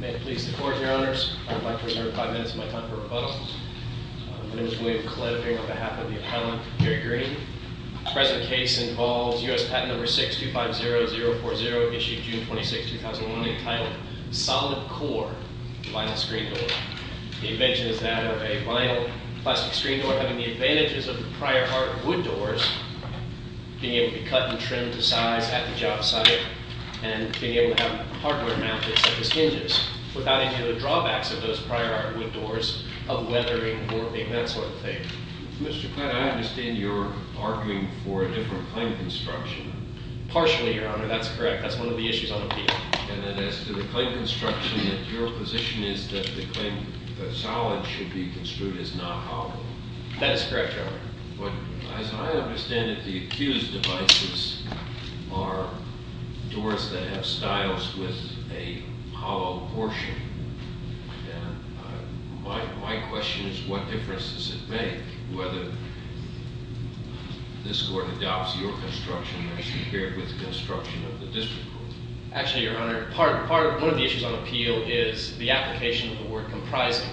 May it please the Court, Your Honors, I would like to reserve 5 minutes of my time for rebuttal. My name is William Cliff, and on behalf of the Appellant, Jerry Green. The present case involves U.S. Patent No. 6250040, issued June 26, 2001, entitled Solid Core Vinyl Screen Door. The invention is that of a vinyl plastic screen door having the advantages of the prior art wood doors, being able to cut and trim to size at the job site, and being able to have hardware mounted such as hinges, without any of the drawbacks of those prior art wood doors of weathering, warping, that sort of thing. Mr. Kline, I understand you're arguing for a different claim construction. Partially, Your Honor, that's correct. That's one of the issues on appeal. And then as to the claim construction, that your position is that the claim that solid should be construed as not hollow. That is correct, Your Honor. But as I understand it, the accused devices are doors that have styles with a hollow portion. And my question is, what difference does it make whether this Court adopts your construction as compared with the construction of the district court? Actually, Your Honor, one of the issues on appeal is the application of the word comprising.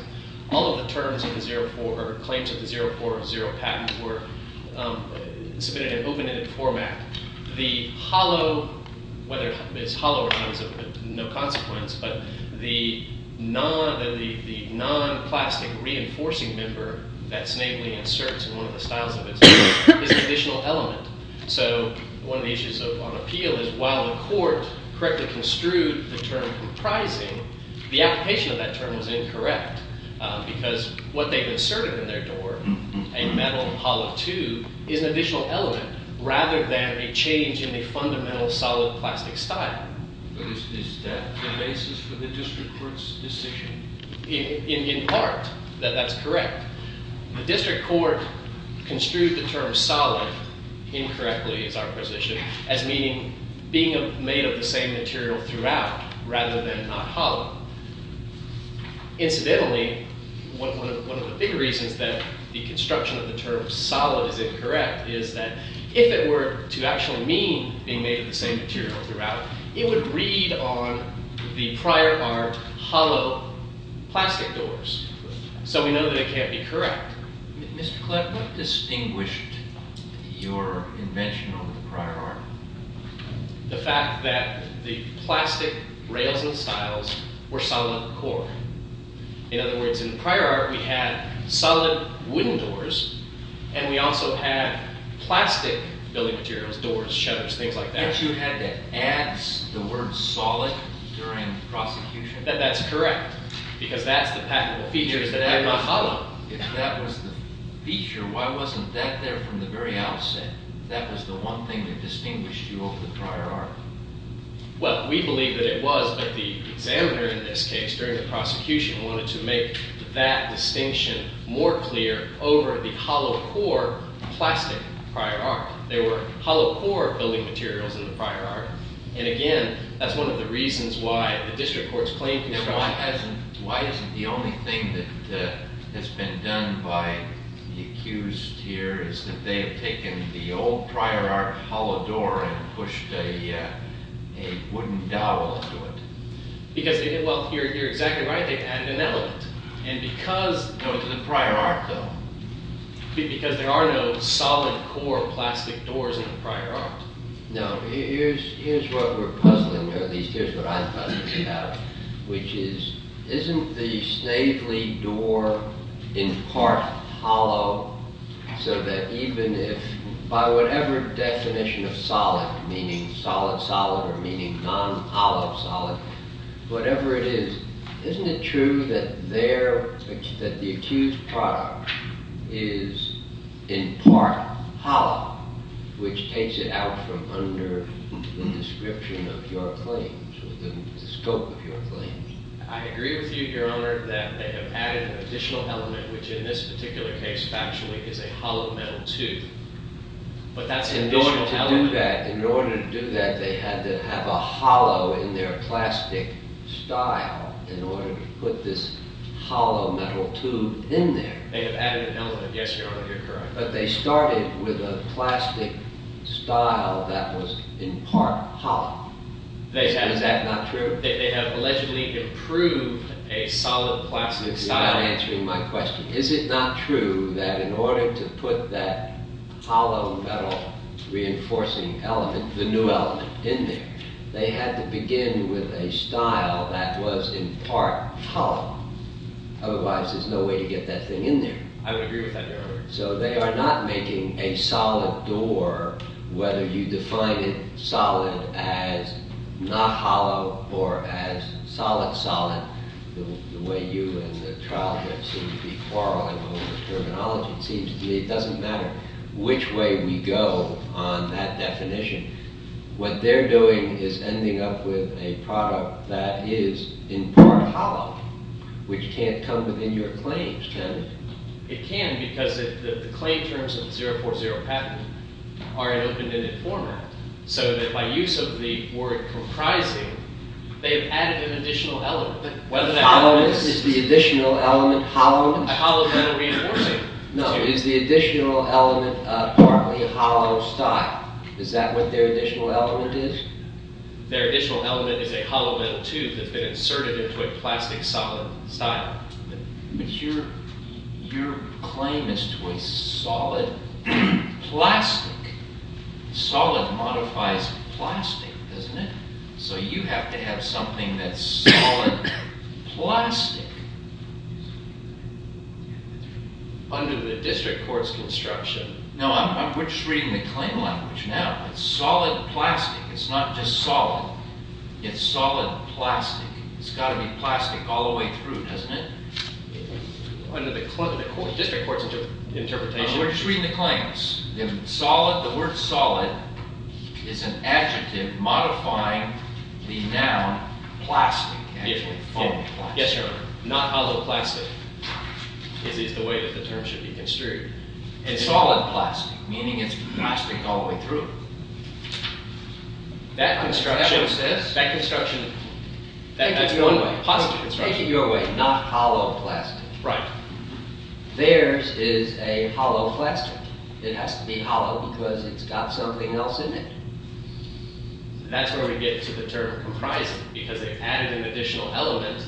All of the claims of the 040 patent were submitted in open-ended format. The hollow, whether it's hollow or not is of no consequence, but the non-plastic reinforcing member that's namely inserts in one of the styles of it is an additional element. So one of the issues on appeal is while the court correctly construed the term comprising, the application of that term was incorrect because what they've inserted in their door, a metal hollow tube, is an additional element rather than a change in the fundamental solid plastic style. But is that the basis for the district court's decision? In part, that's correct. The district court construed the term solid incorrectly, is our position, as meaning being made of the same material throughout rather than not hollow. Incidentally, one of the big reasons that the construction of the term solid is incorrect is that if it were to actually mean being made of the same material throughout, it would read on the prior art hollow plastic doors. So we know that it can't be correct. Mr. Klepp, what distinguished your invention over the prior art? The fact that the plastic rails and stiles were solid core. In other words, in the prior art we had solid wooden doors, and we also had plastic building materials, doors, shutters, things like that. That's correct because that's the patentable feature. If that was the feature, why wasn't that there from the very outset? That was the one thing that distinguished you over the prior art. Well, we believe that it was, but the examiner in this case during the prosecution wanted to make that distinction more clear over the hollow core plastic prior art. There were hollow core building materials in the prior art. Again, that's one of the reasons why the district courts claimed to be correct. Why isn't the only thing that has been done by the accused here is that they have taken the old prior art hollow door and pushed a wooden dowel into it? You're exactly right. They've added an element. No, to the prior art though. Because there are no solid core plastic doors in the prior art. Now, here's what we're puzzling, or at least here's what I'm puzzled about, which is isn't the Snavely door in part hollow so that even if, by whatever definition of solid, meaning solid-solid or meaning non-hollow-solid, whatever it is, isn't it true that the accused product is in part hollow, which takes it out from under the description of your claims or the scope of your claims? I agree with you, Your Honor, that they have added an additional element, which in this particular case factually is a hollow metal tube. But that's an additional element. In order to do that, they had to have a hollow in their plastic style in order to put this hollow metal tube in there. They have added an element, yes, Your Honor. You're correct. But they started with a plastic style that was in part hollow. Is that not true? They have allegedly improved a solid plastic style. You're not answering my question. Is it not true that in order to put that hollow metal reinforcing element, the new element, in there, they had to begin with a style that was in part hollow? Otherwise there's no way to get that thing in there. I would agree with that, Your Honor. So they are not making a solid door, whether you define it solid as not hollow or as solid-solid, the way you and the trial have seemed to be quarreling over the terminology. It seems to me it doesn't matter which way we go on that definition. What they're doing is ending up with a product that is in part hollow, which can't come within your claims, can it? It can because the claim terms of the 040 patent are in open-ended format, so that by use of the word comprising, they have added an additional element. Is the additional element hollow? A hollow metal reinforcing tube. No, is the additional element partly hollow style? Is that what their additional element is? Their additional element is a hollow metal tube that's been inserted into a plastic solid style. But your claim is to a solid plastic. Solid modifies plastic, doesn't it? So you have to have something that's solid plastic under the district court's construction. No, we're just reading the claim language now. It's solid plastic. It's not just solid. It's solid plastic. It's got to be plastic all the way through, doesn't it? Under the district court's interpretation. We're just reading the claims. The word solid is an adjective modifying the noun plastic. Yes, sir. Not hollow plastic is the way that the term should be construed. It's solid plastic, meaning it's plastic all the way through. That construction, that construction, that's one way, positive construction. Take it your way, not hollow plastic. Right. Theirs is a hollow plastic. It has to be hollow because it's got something else in it. That's where we get to the term comprising, because they've added an additional element.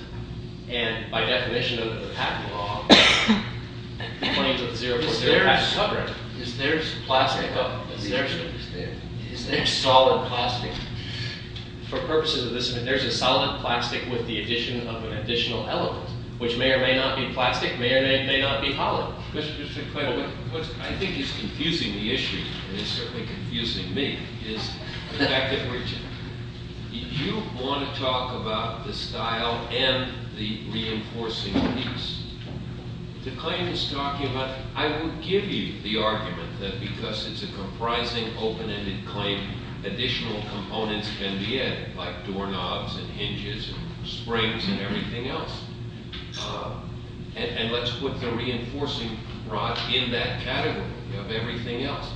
And by definition under the patent law, the claims of the 040 have to cover it. Is theirs plastic? Is theirs solid plastic? For purposes of this, there's a solid plastic with the addition of an additional element, which may or may not be plastic, may or may not be hollow. Mr. Clayton, what I think is confusing the issue, and it's certainly confusing me, is the fact that you want to talk about the style and the reinforcing piece. The claim is talking about, I will give you the argument that because it's a comprising, open-ended claim, additional components can be added, like doorknobs and hinges and springs and everything else. And let's put the reinforcing rod in that category of everything else.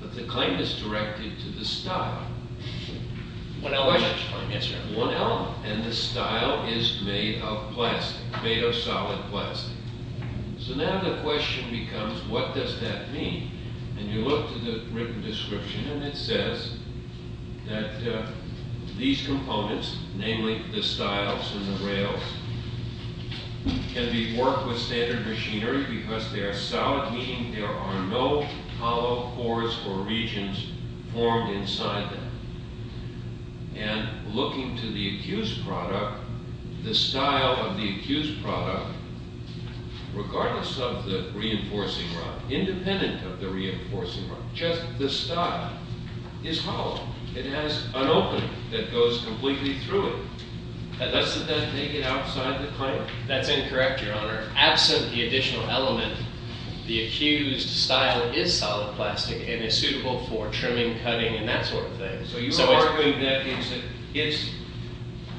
But the claim is directed to the style. One element. One element. And the style is made of plastic, made of solid plastic. So now the question becomes, what does that mean? And you look to the written description, and it says that these components, namely the styles and the rails, can be worked with standard machinery because they are solid, meaning there are no hollow pores or regions formed inside them. And looking to the accused product, the style of the accused product, regardless of the reinforcing rod, independent of the reinforcing rod, just the style, is hollow. It has an opening that goes completely through it. Does that make it outside the claim? That's incorrect, Your Honor. Absent the additional element, the accused style is solid plastic and is suitable for trimming, cutting, and that sort of thing. So you're arguing that it's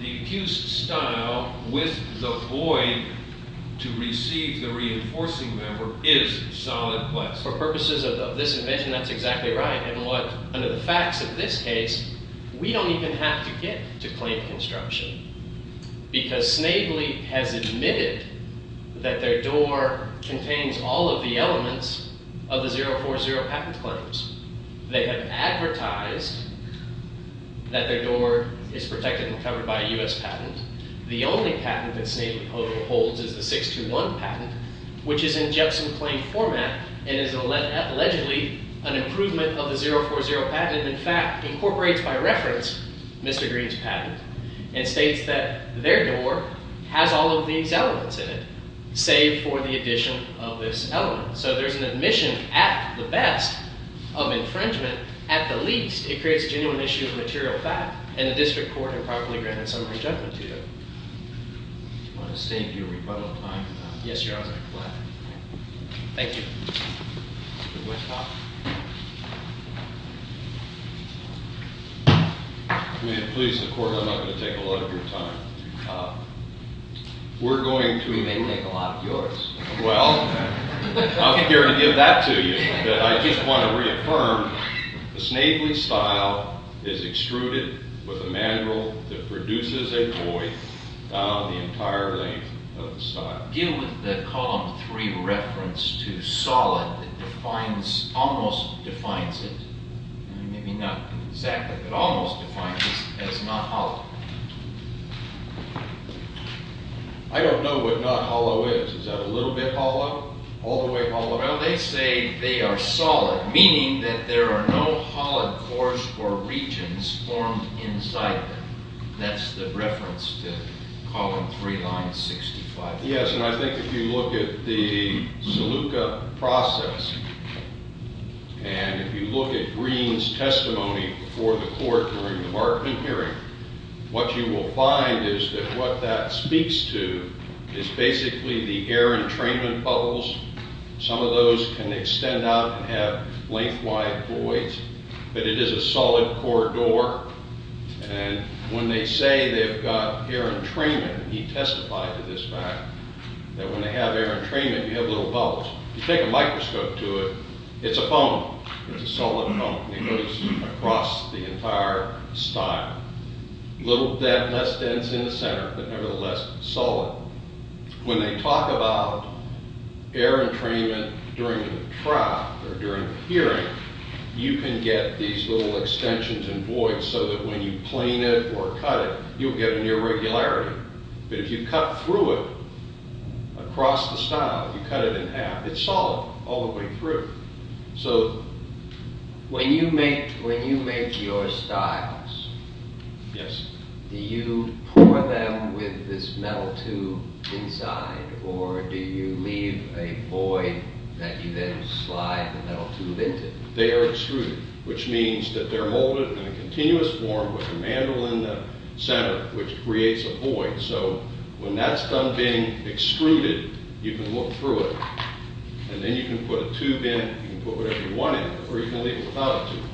the accused style with the void to receive the reinforcing member is solid plastic. For purposes of this invention, that's exactly right. And what, under the facts of this case, we don't even have to get to claim construction because Snavely has admitted that their door contains all of the elements of the 040 patent claims. They have advertised that their door is protected and covered by a U.S. patent. The only patent that Snavely holds is the 621 patent, which is in Jepson claim format and is allegedly an improvement of the 040 patent and, in fact, incorporates, by reference, Mr. Green's patent and states that their door has all of these elements in it, save for the addition of this element. So there's an admission, at the best, of infringement. At the least, it creates a genuine issue of material fact and the district court improperly granted summary judgment to you. I want to thank you for your time, Your Honor. Yes, Your Honor. I'm glad. Thank you. Mr. Westhoff. If we could please the court, I'm not going to take a lot of your time. We're going to... We may take a lot of yours. Well, I'm here to give that to you, but I just want to reaffirm that Snavely's style is extruded with a mandrel that produces a void down the entire length of the style. Deal with the column 3 reference to solid that defines, almost defines it. Maybe not exactly, but almost defines it as not hollow. I don't know what not hollow is. Is that a little bit hollow? All the way hollow? Well, they say they are solid, meaning that there are no hollow cores or regions formed inside them. That's the reference to column 3, line 65. Yes, and I think if you look at the Saluka process, and if you look at Green's testimony before the court during the Markman hearing, what you will find is that what that speaks to is basically the air entrainment bubbles. Some of those can extend out and have length-wide voids, but it is a solid core door. And when they say they've got air entrainment, he testified to this fact, that when they have air entrainment, you have little bubbles. If you take a microscope to it, it's a foam. It's a solid foam. It goes across the entire style. Less dense in the center, but nevertheless solid. You can get these little extensions and voids, so that when you plane it or cut it, you'll get an irregularity. But if you cut through it, across the style, you cut it in half, it's solid all the way through. When you make your styles, do you pour them with this metal tube inside, or do you leave a void that you then slide the metal tube into? They are extruded, which means that they're molded in a continuous form with a mandrel in the center, which creates a void. So when that's done being extruded, you can look through it. And then you can put a tube in, you can put whatever you want in, or you can leave it without a tube.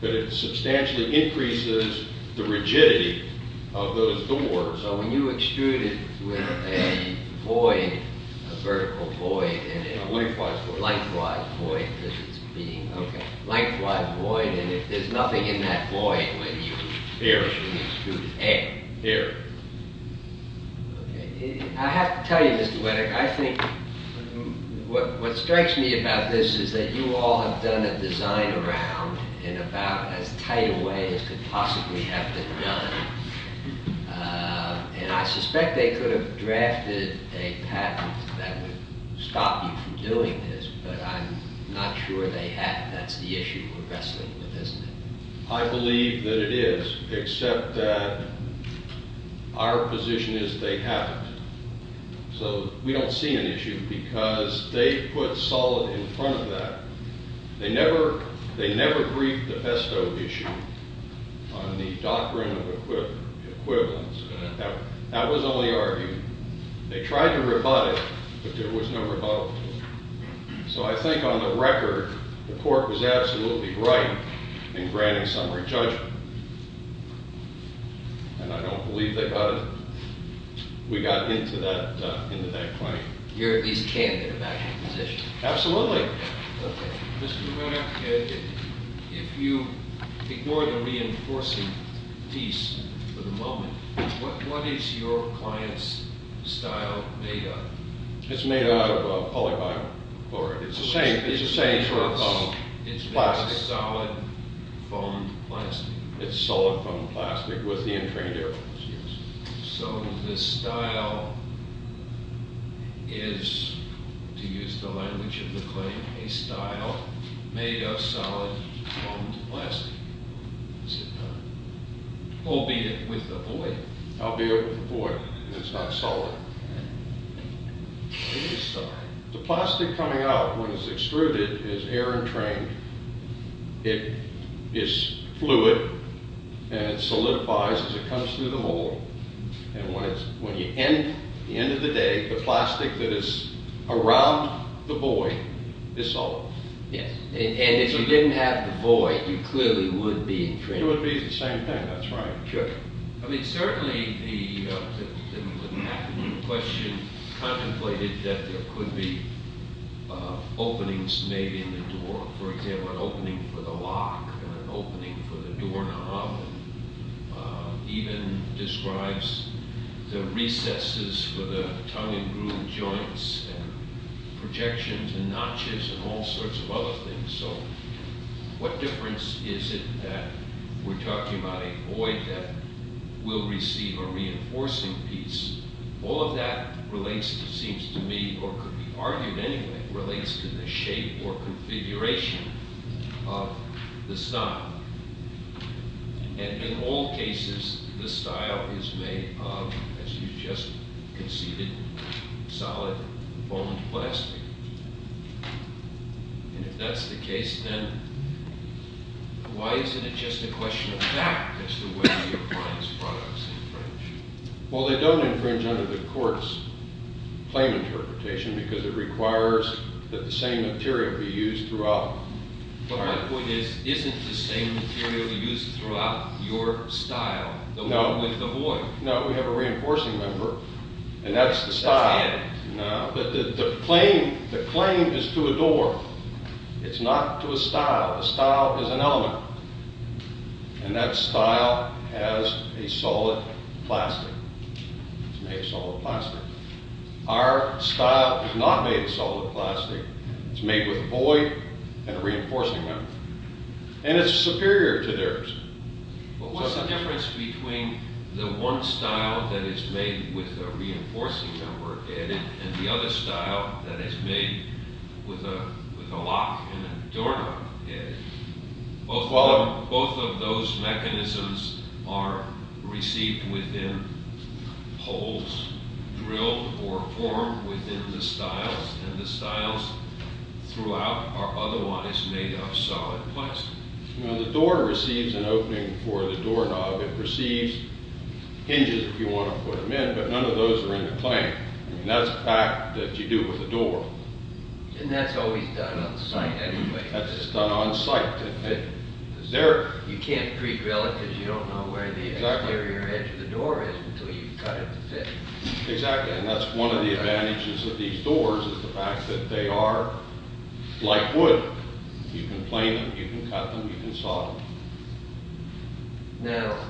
But it substantially increases the rigidity of those doors. So when you extrude it with a void, a vertical void... A lengthwise void. Lengthwise void, because it's being... Okay. Lengthwise void, and there's nothing in that void when you... Air. When you extrude air. Air. I have to tell you, Mr. Whittaker, I think... What strikes me about this is that you all have done a design around in about as tight a way as could possibly have been done. And I suspect they could have drafted a patent that would stop you from doing this, but I'm not sure they have. That's the issue we're wrestling with, isn't it? I believe that it is, except that our position is they haven't. So we don't see an issue because they put solid in front of that. They never briefed the Pesto issue on the doctrine of equivalence and that was only argued. They tried to rebut it, but there was no rebuttal. So I think on the record, the court was absolutely right in granting summary judgment. And I don't believe they got it. We got into that claim. You're at least candid about your position. Absolutely. Okay. Mr. Whittaker, if you ignore the reinforcing piece for the moment, what is your client's style made of? It's made out of polyvinyl. It's the same sort of plastic. It's made out of solid foam plastic. It's solid foam plastic with the entrained arrows used. So the style is, to use the language of the claim, a style made of solid foam plastic. Is it not? Albeit with a void. Albeit with a void. It's not solid. It is solid. The plastic coming out when it's extruded is air entrained. It is fluid and it solidifies as it comes through the mold. And when you end, at the end of the day, the plastic that is around the void is solid. And if you didn't have the void, you clearly would be entrained. It would be the same thing. That's right. I mean, certainly the question contemplated that there could be openings made in the door. For example, an opening for the lock and an opening for the doorknob. Even describes the recesses for the tongue and groove joints and projections and notches and all sorts of other things. So what difference is it that we're talking about a void that will receive a reinforcing piece? All of that relates, it seems to me, or could be argued anyway, relates to the shape or configuration of the style. And in all cases, the style is made of, as you just conceded, solid foam plastic. And if that's the case, then why isn't it just a question of fact as to whether the appliance products infringe? Well, they don't infringe under the court's claim interpretation because it requires that the same material be used throughout. But my point is, isn't the same material used throughout your style? No. With the void. No, we have a reinforcing member, and that's the style. That's the end. No, but the claim is to a door. It's not to a style. A style is an element, and that style has a solid plastic. It's made of solid plastic. Our style is not made of solid plastic. It's made with a void and a reinforcing member, and it's superior to theirs. But what's the difference between the one style that is made with a reinforcing member added, and the other style that is made with a lock and a door added? Both of those mechanisms are received within holes drilled or formed within the styles, and the styles throughout are otherwise made of solid plastic. The door receives an opening for the doorknob. It receives hinges if you want to put them in, but none of those are in the claim. That's a fact that you do with the door. And that's always done on site anyway. That's done on site. You can't pre-drill it because you don't know where the exterior edge of the door is until you cut it to fit. Exactly, and that's one of the advantages of these doors is the fact that they are like wood. You can plane them, you can cut them, you can saw them. Now,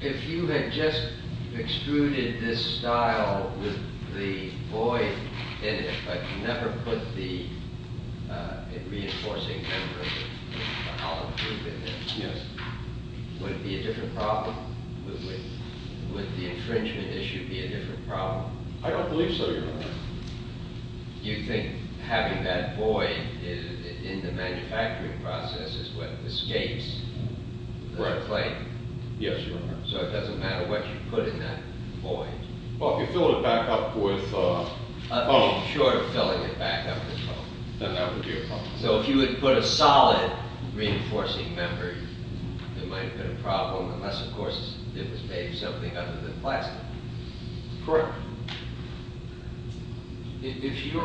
if you had just extruded this style with the void in it, but never put the reinforcing member of the hollow tube in it, would it be a different problem? Would the infringement issue be a different problem? I don't believe so, Your Honor. Do you think having that void in the manufacturing process is what escapes the claim? Yes, Your Honor. So it doesn't matter what you put in that void? Well, if you fill it back up with foam. Short of filling it back up with foam. Then that would be a problem. So if you would put a solid reinforcing member, it might have been a problem, unless, of course, it was made of something other than plastic. Correct. If your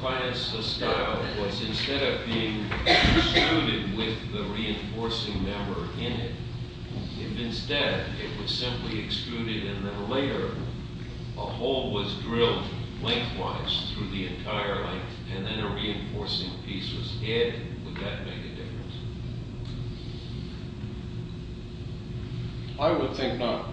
client's style was instead of being extruded with the reinforcing member in it, if instead it was simply extruded and then later a hole was drilled lengthwise through the entire length and then a reinforcing piece was added, would that make a difference? I would think not,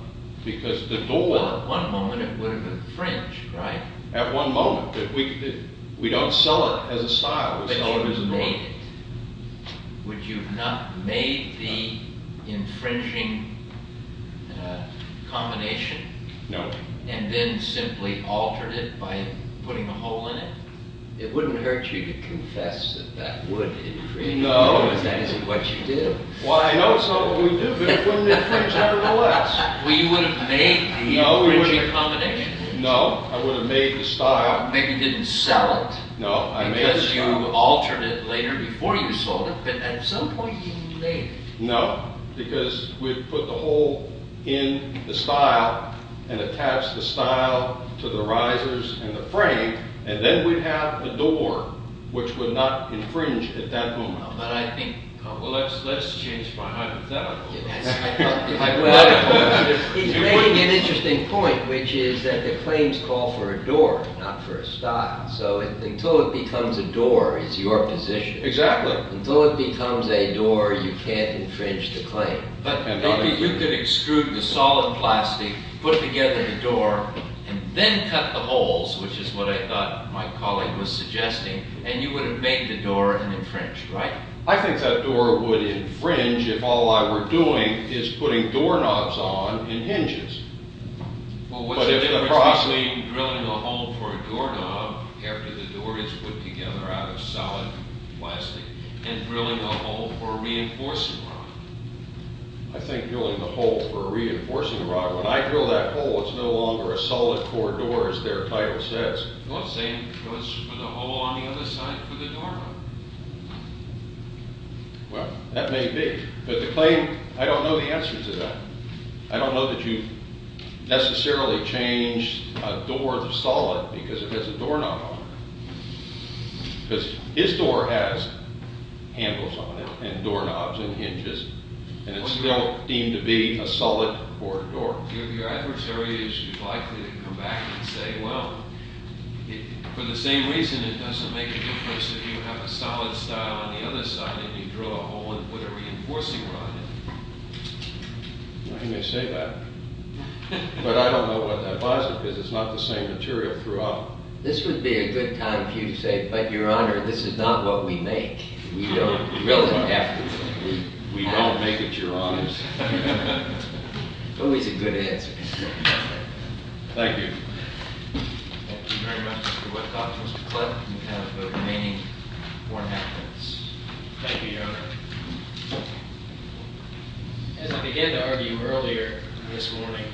because the door... Well, at one moment it would have infringed, right? At one moment. We don't sell it as a style, we sell it as a void. But you've made it. Would you not have made the infringing combination? No. And then simply altered it by putting a hole in it? It wouldn't hurt you to confess that that would have infringed. Because that isn't what you do. Well, I know it's not what we do, but it wouldn't have infringed either way. Well, you wouldn't have made the infringing combination? No, I wouldn't have made the style. Maybe you didn't sell it because you altered it later before you sold it, but at some point you made it. No, because we'd put the hole in the style and attach the style to the risers and the frame, and then we'd have a door which would not infringe at that moment. But I think... Well, let's change my hypothetical. He's making an interesting point, which is that the claims call for a door, not for a style. So until it becomes a door, it's your position. Exactly. Until it becomes a door, you can't infringe the claim. But maybe you could exclude the solid plastic, put together the door, and then cut the holes, which is what I thought my colleague was suggesting, and you would have made the door and infringed, right? I think that door would infringe if all I were doing is putting doorknobs on and hinges. Well, what's the difference between drilling a hole for a doorknob after the door is put together out of solid plastic and drilling a hole for a reinforcing rod? I think drilling a hole for a reinforcing rod. When I drill that hole, it's no longer a solid core door, as their title says. Well, the same goes for the hole on the other side for the doorknob. Well, that may be. But the claim, I don't know the answer to that. I don't know that you necessarily change a door to solid because it has a doorknob on it. Because this door has handles on it and doorknobs and hinges, and it's still deemed to be a solid core door. Your adversary is likely to come back and say, well, for the same reason it doesn't make a difference if you have a solid style on the other side and you drill a hole and put a reinforcing rod in it. I think they say that. But I don't know what that plastic is. It's not the same material throughout. This would be a good time for you to say, but Your Honor, this is not what we make. We don't drill it. We don't make it, Your Honors. Always a good answer. Thank you. Thank you very much, Mr. Whitcock. Mr. Cliff, you have the remaining four minutes. Thank you, Your Honor. As I began to argue earlier this morning,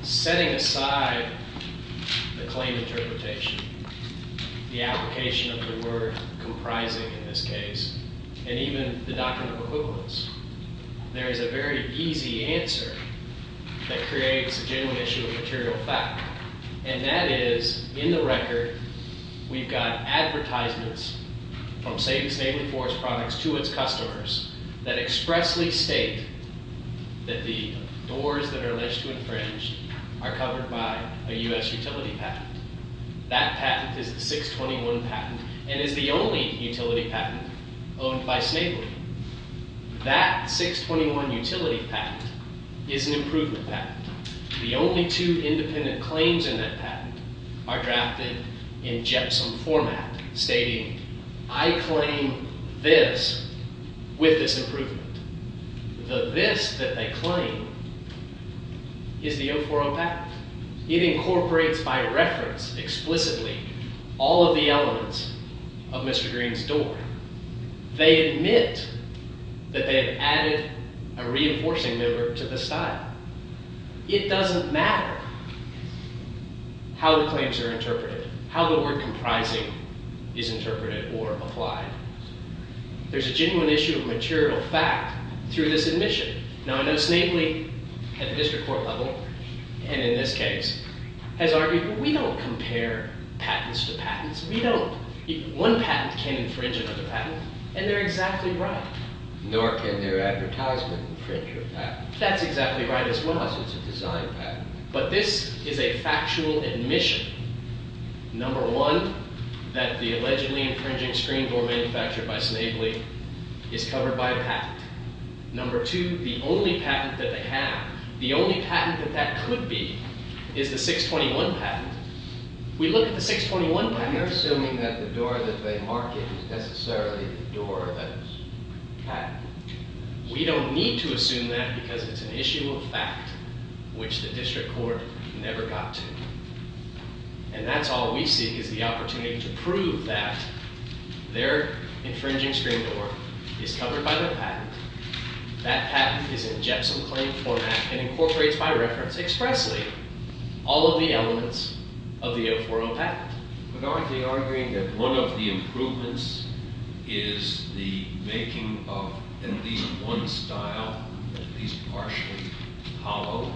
setting aside the claim interpretation, the application of the word comprising in this case, and even the document of equivalence, there is a very easy answer that creates a genuine issue of material fact. And that is, in the record, we've got advertisements from Satan's Navy Force products to its customers that expressly state that the doors that are alleged to infringe are covered by a U.S. utility patent. That patent is the 621 patent, and is the only utility patent owned by Snavely. That 621 utility patent is an improvement patent. The only two independent claims in that patent are drafted in GEPSOM format, stating, I claim this with this improvement. The this that they claim is the 040 patent. It incorporates, by reference, explicitly, all of the elements of Mr. Green's door. They admit that they have added a reinforcing member to the style. It doesn't matter how the claims are interpreted, how the word comprising is interpreted or applied. There's a genuine issue of material fact through this admission. Now, I know Snavely, at the district court level, and in this case, has argued, we don't compare patents to patents. We don't. One patent can infringe another patent, and they're exactly right. Nor can their advertisement infringe a patent. That's exactly right as well. So it's a design patent. But this is a factual admission. Number one, that the allegedly infringing screen door manufactured by Snavely is covered by a patent. Number two, the only patent that they have, the only patent that that could be, is the 621 patent. We look at the 621 patent... But you're assuming that the door that they mark it is necessarily the door that was patented. We don't need to assume that because it's an issue of fact which the district court never got to. And that's all we seek, is the opportunity to prove that their infringing screen door is covered by the patent, that patent is in Jepson claim format, and incorporates by reference expressly all of the elements of the 040 patent. But aren't they arguing that one of the improvements is the making of at least one style, at least partially hollow,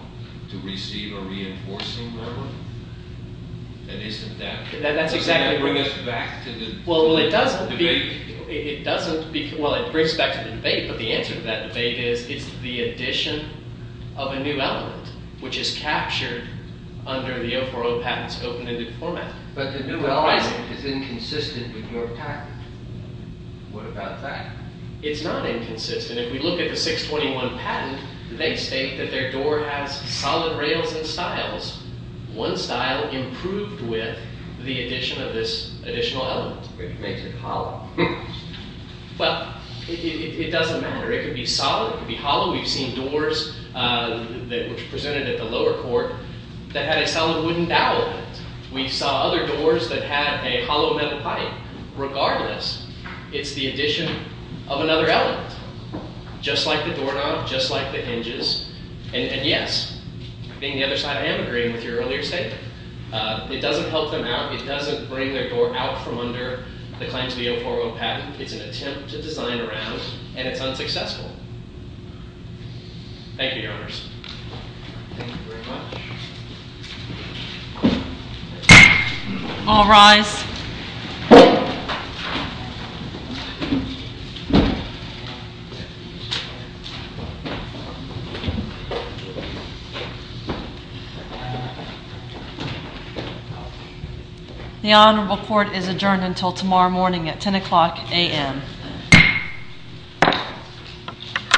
to receive a reinforcing level? And isn't that... That's exactly... Doesn't that bring us back to the debate? It doesn't... Well, it brings us back to the debate, but the answer to that debate is it's the addition of a new element, which is captured under the 040 patent's open-ended format. But the new element is inconsistent with your patent. What about that? It's not inconsistent. And if we look at the 621 patent, they state that their door has solid rails and styles, one style improved with the addition of this additional element. But it makes it hollow. Well, it doesn't matter. It could be solid, it could be hollow. We've seen doors that were presented at the lower court that had a solid wooden dowel in it. We saw other doors that had a hollow metal pipe. Regardless, it's the addition of another element, just like the doorknob, just like the hinges. And, yes, being the other side, I am agreeing with your earlier statement. It doesn't help them out. It doesn't bring their door out from under the claims of the 040 patent. It's an attempt to design around, and it's unsuccessful. Thank you, Your Honors. Thank you very much. All rise. Thank you. The honorable court is adjourned until tomorrow morning at 10 o'clock a.m.